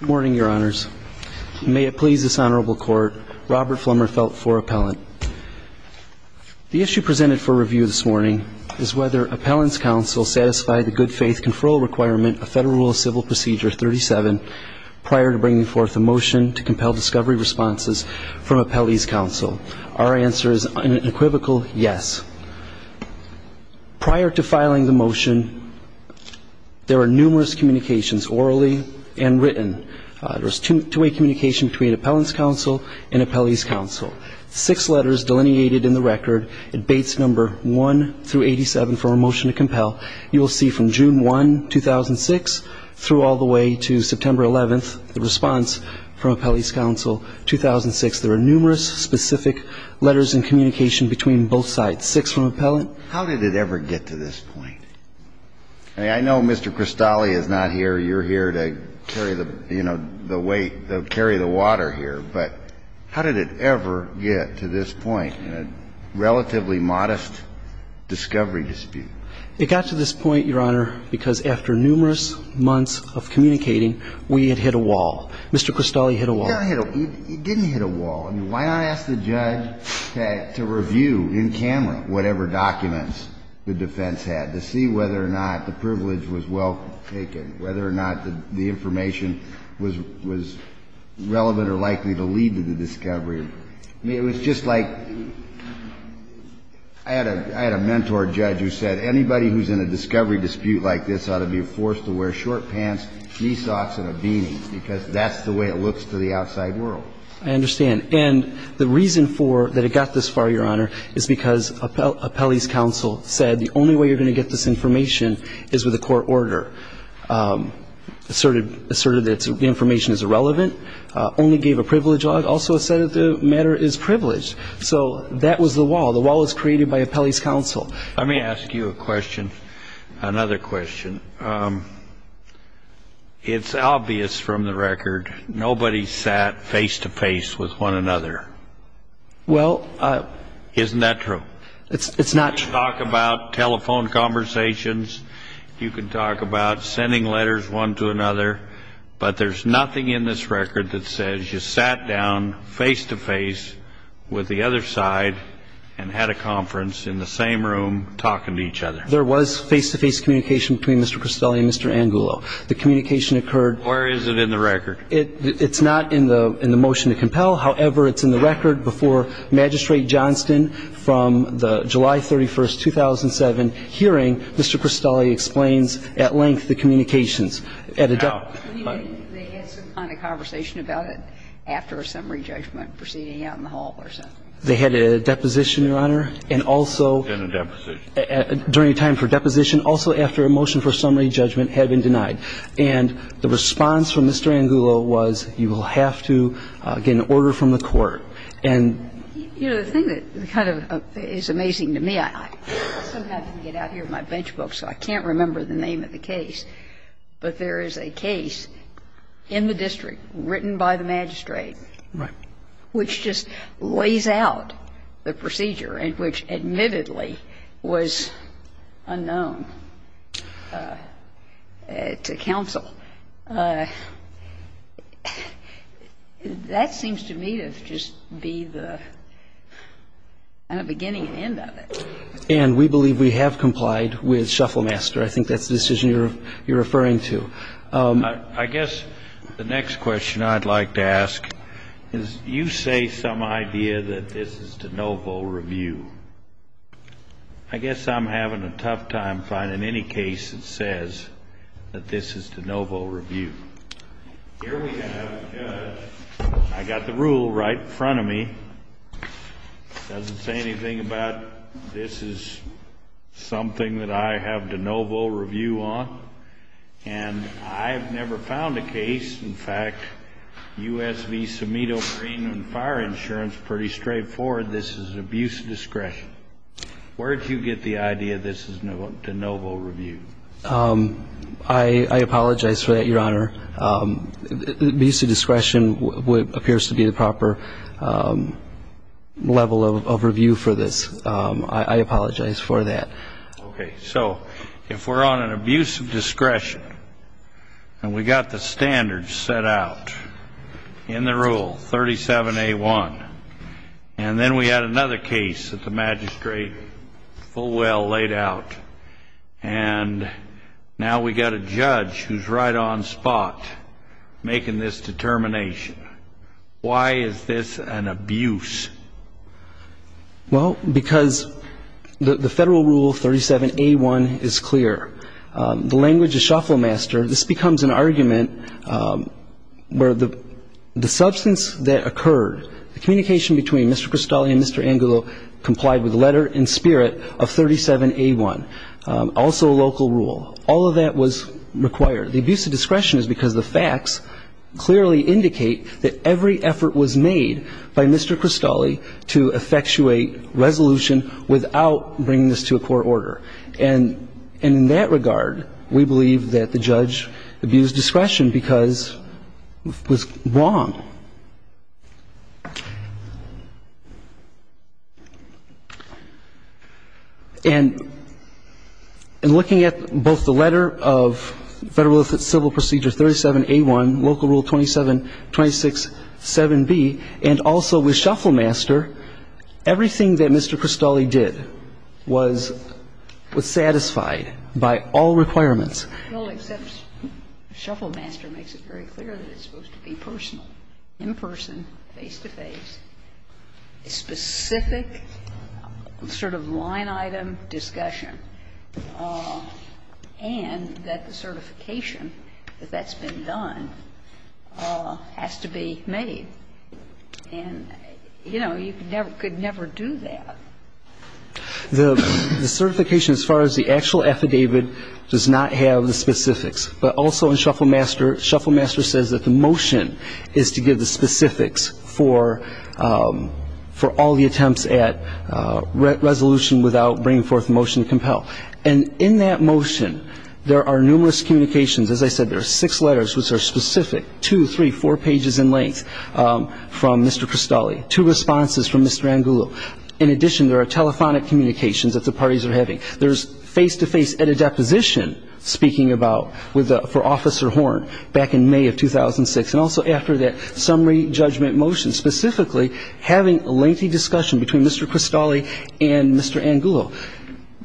Good morning, Your Honors. May it please this Honorable Court, Robert Flummerfelt for Appellant. The issue presented for review this morning is whether Appellant's counsel satisfied the good-faith conferral requirement of Federal Rule of Civil Procedure 37 prior to bringing forth a motion to compel discovery responses from Appellee's counsel. Our answer is an equivocal yes. Prior to filing the motion, there were numerous communications, orally and written. There was two-way communication between Appellant's counsel and Appellee's counsel. Six letters delineated in the record at Bates No. 1-87 for a motion to compel. You will see from June 1, 2006 through all the way to September 11, the response from both sides. Six from Appellant. How did it ever get to this point? I mean, I know Mr. Cristalli is not here, you're here to carry the weight, carry the water here, but how did it ever get to this point in a relatively modest discovery dispute? It got to this point, Your Honor, because after numerous months of communicating, we had hit a wall. Mr. Cristalli hit a wall. It didn't hit a wall. I mean, why not ask the judge to review in camera whatever documents the defense had, to see whether or not the privilege was well taken, whether or not the information was relevant or likely to lead to the discovery. I mean, it was just like I had a mentor judge who said, anybody who's in a discovery dispute like this ought to be forced to wear short pants, knee socks and a beanie, because that's the way it looks to the outside world. I understand. And the reason for that it got this far, Your Honor, is because Appellee's counsel said the only way you're going to get this information is with a court order, asserted that the information is irrelevant, only gave a privilege law, also said that the matter is privileged. So that was the wall. The wall was created by Appellee's counsel. Let me ask you a question, another question. It's obvious from the record, nobody sat face to face with one another. Well, isn't that true? It's not true. You can talk about telephone conversations. You can talk about sending letters one to another. But there's nothing in this record that says you sat down face to face with the other side and had a conference in the same room talking to each other. There was face-to-face communication between Mr. Crostelli and Mr. Angulo. The communication occurred. Where is it in the record? It's not in the motion to compel. However, it's in the record before Magistrate Johnston from the July 31st, 2007 hearing. Mr. Crostelli explains at length the communications. When you mean they had some kind of conversation about it after a summary judgment proceeding out in the hall or something? They had a deposition, Your Honor, and also — In a deposition. During a time for deposition. Also after a motion for summary judgment had been denied. And the response from Mr. Angulo was you will have to get an order from the court. And — You know, the thing that kind of is amazing to me, I somehow didn't get out here with my bench book, so I can't remember the name of the case. But there is a case in the district written by the magistrate — Right. — which just lays out the procedure and which admittedly was unknown to counsel. That seems to me to just be the beginning and end of it. And we believe we have complied with Shufflemaster. I think that's the decision you're referring to. I guess the next question I'd like to ask is you say some idea that this is de novo review. I guess I'm having a tough time finding any case that says that this is de novo review. Here we have — I got the rule right in front of me. Doesn't say anything about this is something that I have de novo review on. And I have never found a case — in fact, U.S. v. Cimito Greenland Fire Insurance, pretty straightforward, this is abuse of discretion. Where did you get the idea this is de novo review? I apologize for that, Your Honor. Abuse of discretion appears to be the proper level of review for this. I apologize for that. Okay, so if we're on an abuse of discretion and we got the standards set out in the rule 37A1, and then we had another case that the magistrate full well laid out, and now we got a judge who's right on spot making this determination, why is this an abuse? Well, because the Federal Rule 37A1 is clear. The language is shuffle master. This becomes an argument where the substance that occurred, the communication between Mr. Cristoli and Mr. Angulo complied with letter in spirit of 37A1, also a local rule. All of that was required. The abuse of discretion is because the facts clearly indicate that every effort was made by Mr. Cristoli to effectuate resolution without bringing this to a court order. And in that regard, we believe that the judge abused discretion because it was wrong. And in looking at both the letter of Federal Civil Procedure 37A1, local rule 27267B, and also with shuffle master, everything that Mr. Cristoli did was satisfied by all requirements. Well, except shuffle master makes it very clear that it's supposed to be personal, in person, face-to-face, specific sort of line-item discussion, and that the certification that that's been done has to be made. And, you know, you could never do that. The certification, as far as the actual affidavit, does not have the specifics. But also in shuffle master, shuffle master says that the motion is to give the specifics for all the attempts at resolution without bringing forth a motion to compel a motion to compel, and in that motion, there are numerous communications. As I said, there are six letters which are specific, two, three, four pages in length from Mr. Cristoli. Two responses from Mr. Angulo. In addition, there are telephonic communications that the parties are having. There's face-to-face at a deposition speaking about with the, for Officer Horn back in May of 2006. And also after that, summary judgment motion, specifically having lengthy discussion between Mr. Cristoli and Mr. Angulo.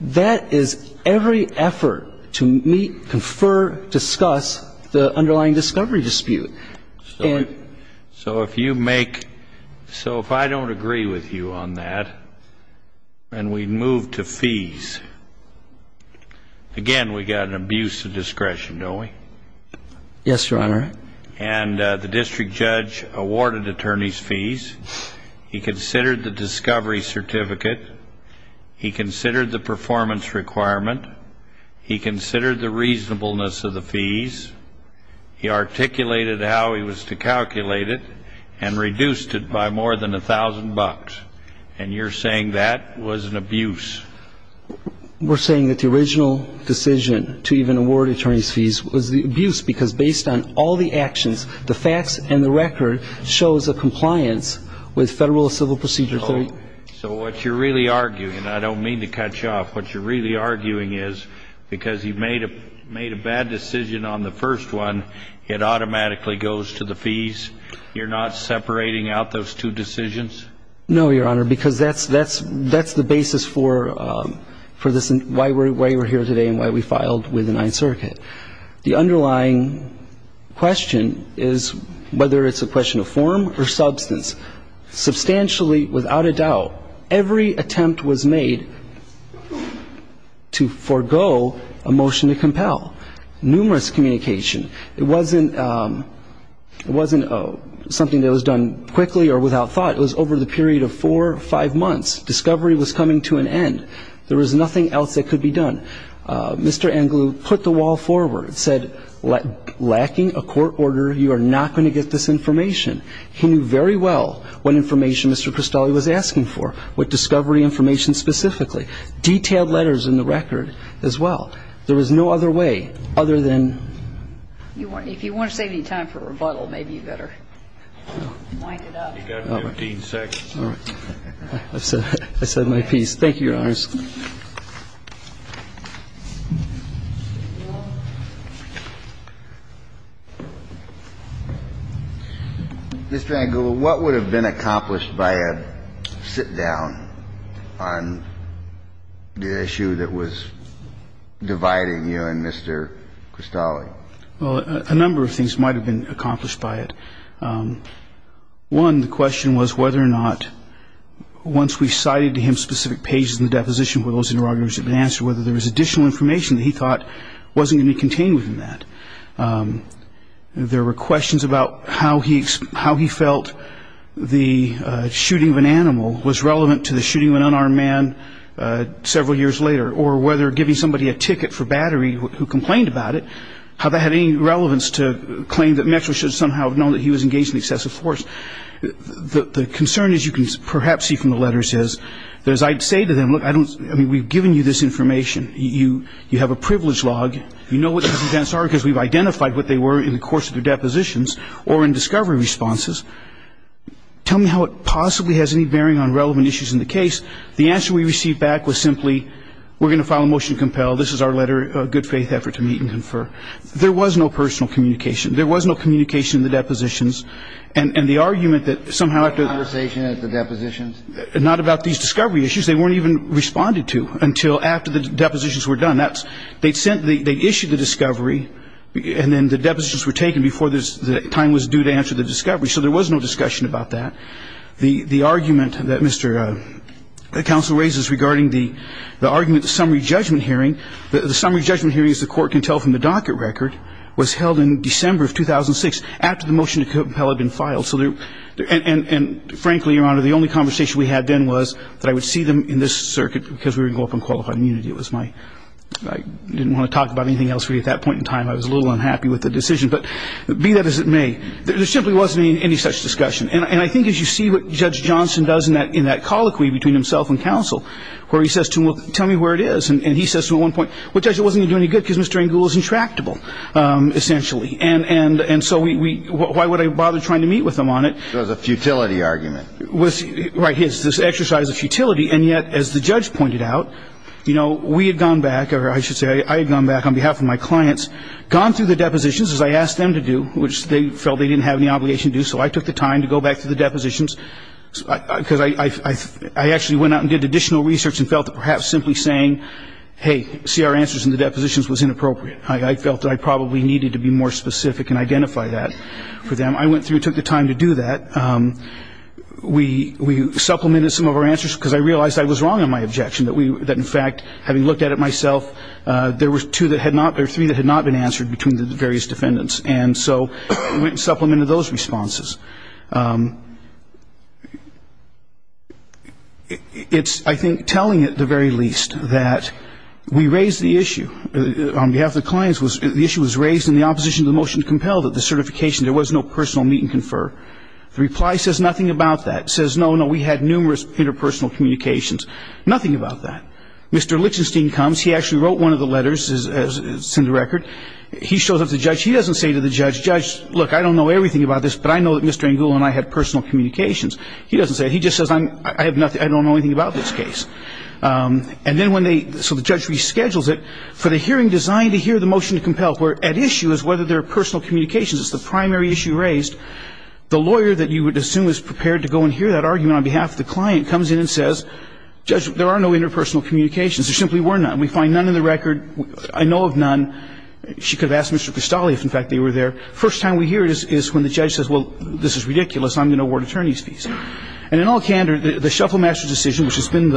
That is every effort to meet, confer, discuss the underlying discovery dispute. And so if you make, so if I don't agree with you on that, and we move to fees, again we've got an abuse of discretion, don't we? Yes, Your Honor. And the district judge awarded attorneys fees. He considered the discovery certificate. He considered the performance requirement. He considered the reasonableness of the fees. He articulated how he was to calculate it and reduced it by more than a thousand bucks. And you're saying that was an abuse? We're saying that the original decision to even award attorneys fees was the abuse because based on all the actions, the facts and the record shows a compliance with Federal Civil Procedure 30. So what you're really arguing, and I don't mean to cut you off, what you're really arguing is because he made a bad decision on the first one, it automatically goes to the fees. You're not separating out those two decisions? No, Your Honor, because that's the basis for why we're here today and why we filed with the Ninth Circuit. The underlying question is whether it's a question of form or substance. Substantially, without a doubt, every attempt was made to forego a motion to compel. Numerous communication. It wasn't something that was done quickly or without thought. It was over the period of four or five months. Discovery was coming to an end. There was nothing else that could be done. Mr. Anglue put the wall forward, said, lacking a court order, you are not going to get this information. He knew very well what information Mr. Cristoli was asking for, what discovery information specifically. Detailed letters in the record as well. There was no other way other than you want if you want to save any time for rebuttal, maybe you better wind it up. You got 15 seconds. All right. I said my piece. Thank you, Your Honors. Mr. Anglue, what would have been accomplished by a sit down on the issue that was dividing you and Mr. Cristoli? Well, a number of things might have been accomplished by it. One, the question was whether or not, once we cited to him specific pages in the deposition where those interrogations had been answered, whether there was additional information that he thought wasn't going to be contained within that. There were questions about how he felt the shooting of an animal was relevant to the shooting of an unarmed man several years later, or whether giving somebody a ticket for battery who complained about it, how that had any relevance to claim that Metro should somehow have known that he was engaged in excessive force. The concern, as you can perhaps see from the letters, is that as I say to them, look, we've given you this information. You have a privilege log. You know what these events are because we've identified what they were in the course of the depositions or in discovery responses. Tell me how it possibly has any bearing on relevant issues in the case. The answer we received back was simply, we're going to file a motion to compel. This is our letter of good faith effort to meet and confer. There was no personal communication. There was no communication in the depositions. And the argument that somehow after the ---- Conversation at the depositions? Not about these discovery issues. They weren't even responded to until after the depositions were done. That's they'd sent, they issued the discovery, and then the depositions were taken before the time was due to answer the discovery. So there was no discussion about that. The argument that Mr. Counsel raises regarding the argument, the summary judgment hearing, the summary judgment hearing, as the Court can tell from the docket record, was held in December of 2006, after the motion to compel had been filed. And frankly, Your Honor, the only conversation we had then was that I would see them in this circuit because we were going to go up on qualified immunity. It was my ---- I didn't want to talk about anything else really at that point in time. I was a little unhappy with the decision. But be that as it may, there simply wasn't any such discussion. And I think as you see what Judge Johnson does in that colloquy between himself and Counsel, where he says to him, well, tell me where it is. And he says to him at one point, well, Judge, it wasn't going to do any good because Mr. Engle is intractable, essentially. And so we ---- why would I bother trying to meet with him on it? It was a futility argument. Right. It's this exercise of futility. And yet, as the judge pointed out, you know, we had gone back, or I should say I had gone back on behalf of my clients, gone through the depositions, as I asked them to do, which they felt they didn't have any obligation to do, so I took the time to go back to the depositions because I actually went out and did additional research and felt that perhaps simply saying, hey, see our answers in the depositions was inappropriate. I felt that I probably needed to be more specific and identify that for them. I went through and took the time to do that. We supplemented some of our answers because I realized I was wrong in my objection, that in fact, having looked at it myself, there were two that had not ---- there were three that had not been answered between the various defendants. And so we supplemented those responses. It's, I think, telling at the very least that we raised the issue on behalf of the clients. The issue was raised in the opposition to the motion to compel that the certification, there was no personal meet and confer. The reply says nothing about that. It says, no, no, we had numerous interpersonal communications. Nothing about that. Mr. Lichtenstein comes. He actually wrote one of the letters. It's in the record. He shows up to the judge. He doesn't say to the judge, judge, look, I don't know everything about this, but I know that Mr. Angul and I had personal communications. He doesn't say it. He just says I'm ---- I have nothing ---- I don't know anything about this case. And then when they ---- so the judge reschedules it. For the hearing designed to hear the motion to compel, at issue is whether there are personal communications. It's the primary issue raised. The lawyer that you would assume is prepared to go and hear that argument on behalf of the client comes in and says, judge, there are no interpersonal communications. There simply were none. We find none in the record. I know of none. She could have asked Mr. Castelli if, in fact, they were there. First time we hear it is when the judge says, well, this is ridiculous. I'm going to award attorney's fees. And in all candor, the Shufflemaster decision, which has been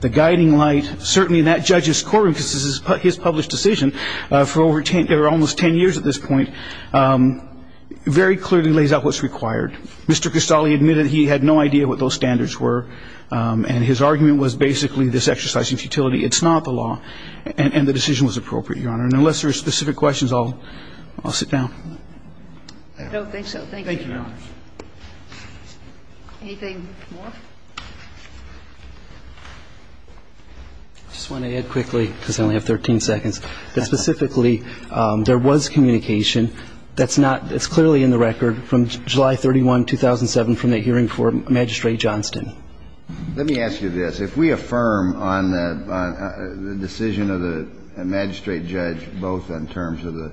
the guiding light, certainly in that judge's courtroom because this is his published decision for over 10 or almost 10 years at this point, very clearly lays out what's required. Mr. Castelli admitted he had no idea what those standards were. And his argument was basically this exercise of futility. It's not the law. And the decision was appropriate, Your Honor. And unless there are specific questions, I'll sit down. I don't think so. Thank you, Your Honor. Anything more? I just want to add quickly, because I only have 13 seconds, that specifically there was communication that's not as clearly in the record from July 31, 2007 from the hearing for Magistrate Johnston. Let me ask you this. If we affirm on the decision of the magistrate judge, both in terms of the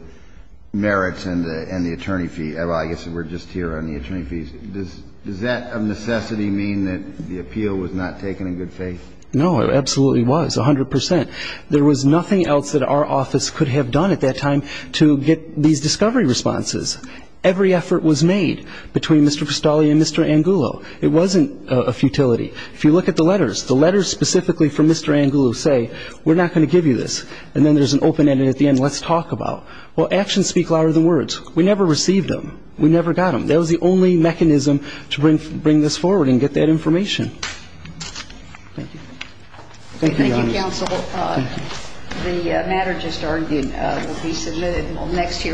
merits and the attorney fee, I guess we're just here on the attorney fees, does that of necessity mean that the appeal was not taken in good faith? No, it absolutely was, 100 percent. There was nothing else that our office could have done at that time to get these discovery responses. Every effort was made between Mr. Castelli and Mr. Angulo. It wasn't a futility. If you look at the letters, the letters specifically from Mr. Angulo say, we're not going to give you this, and then there's an open-ended at the end, let's talk about. Well, actions speak louder than words. We never received them. We never got them. That was the only mechanism to bring this forward and get that information. Thank you. Thank you, Your Honor. Thank you, counsel. The matter just argued will be submitted next year.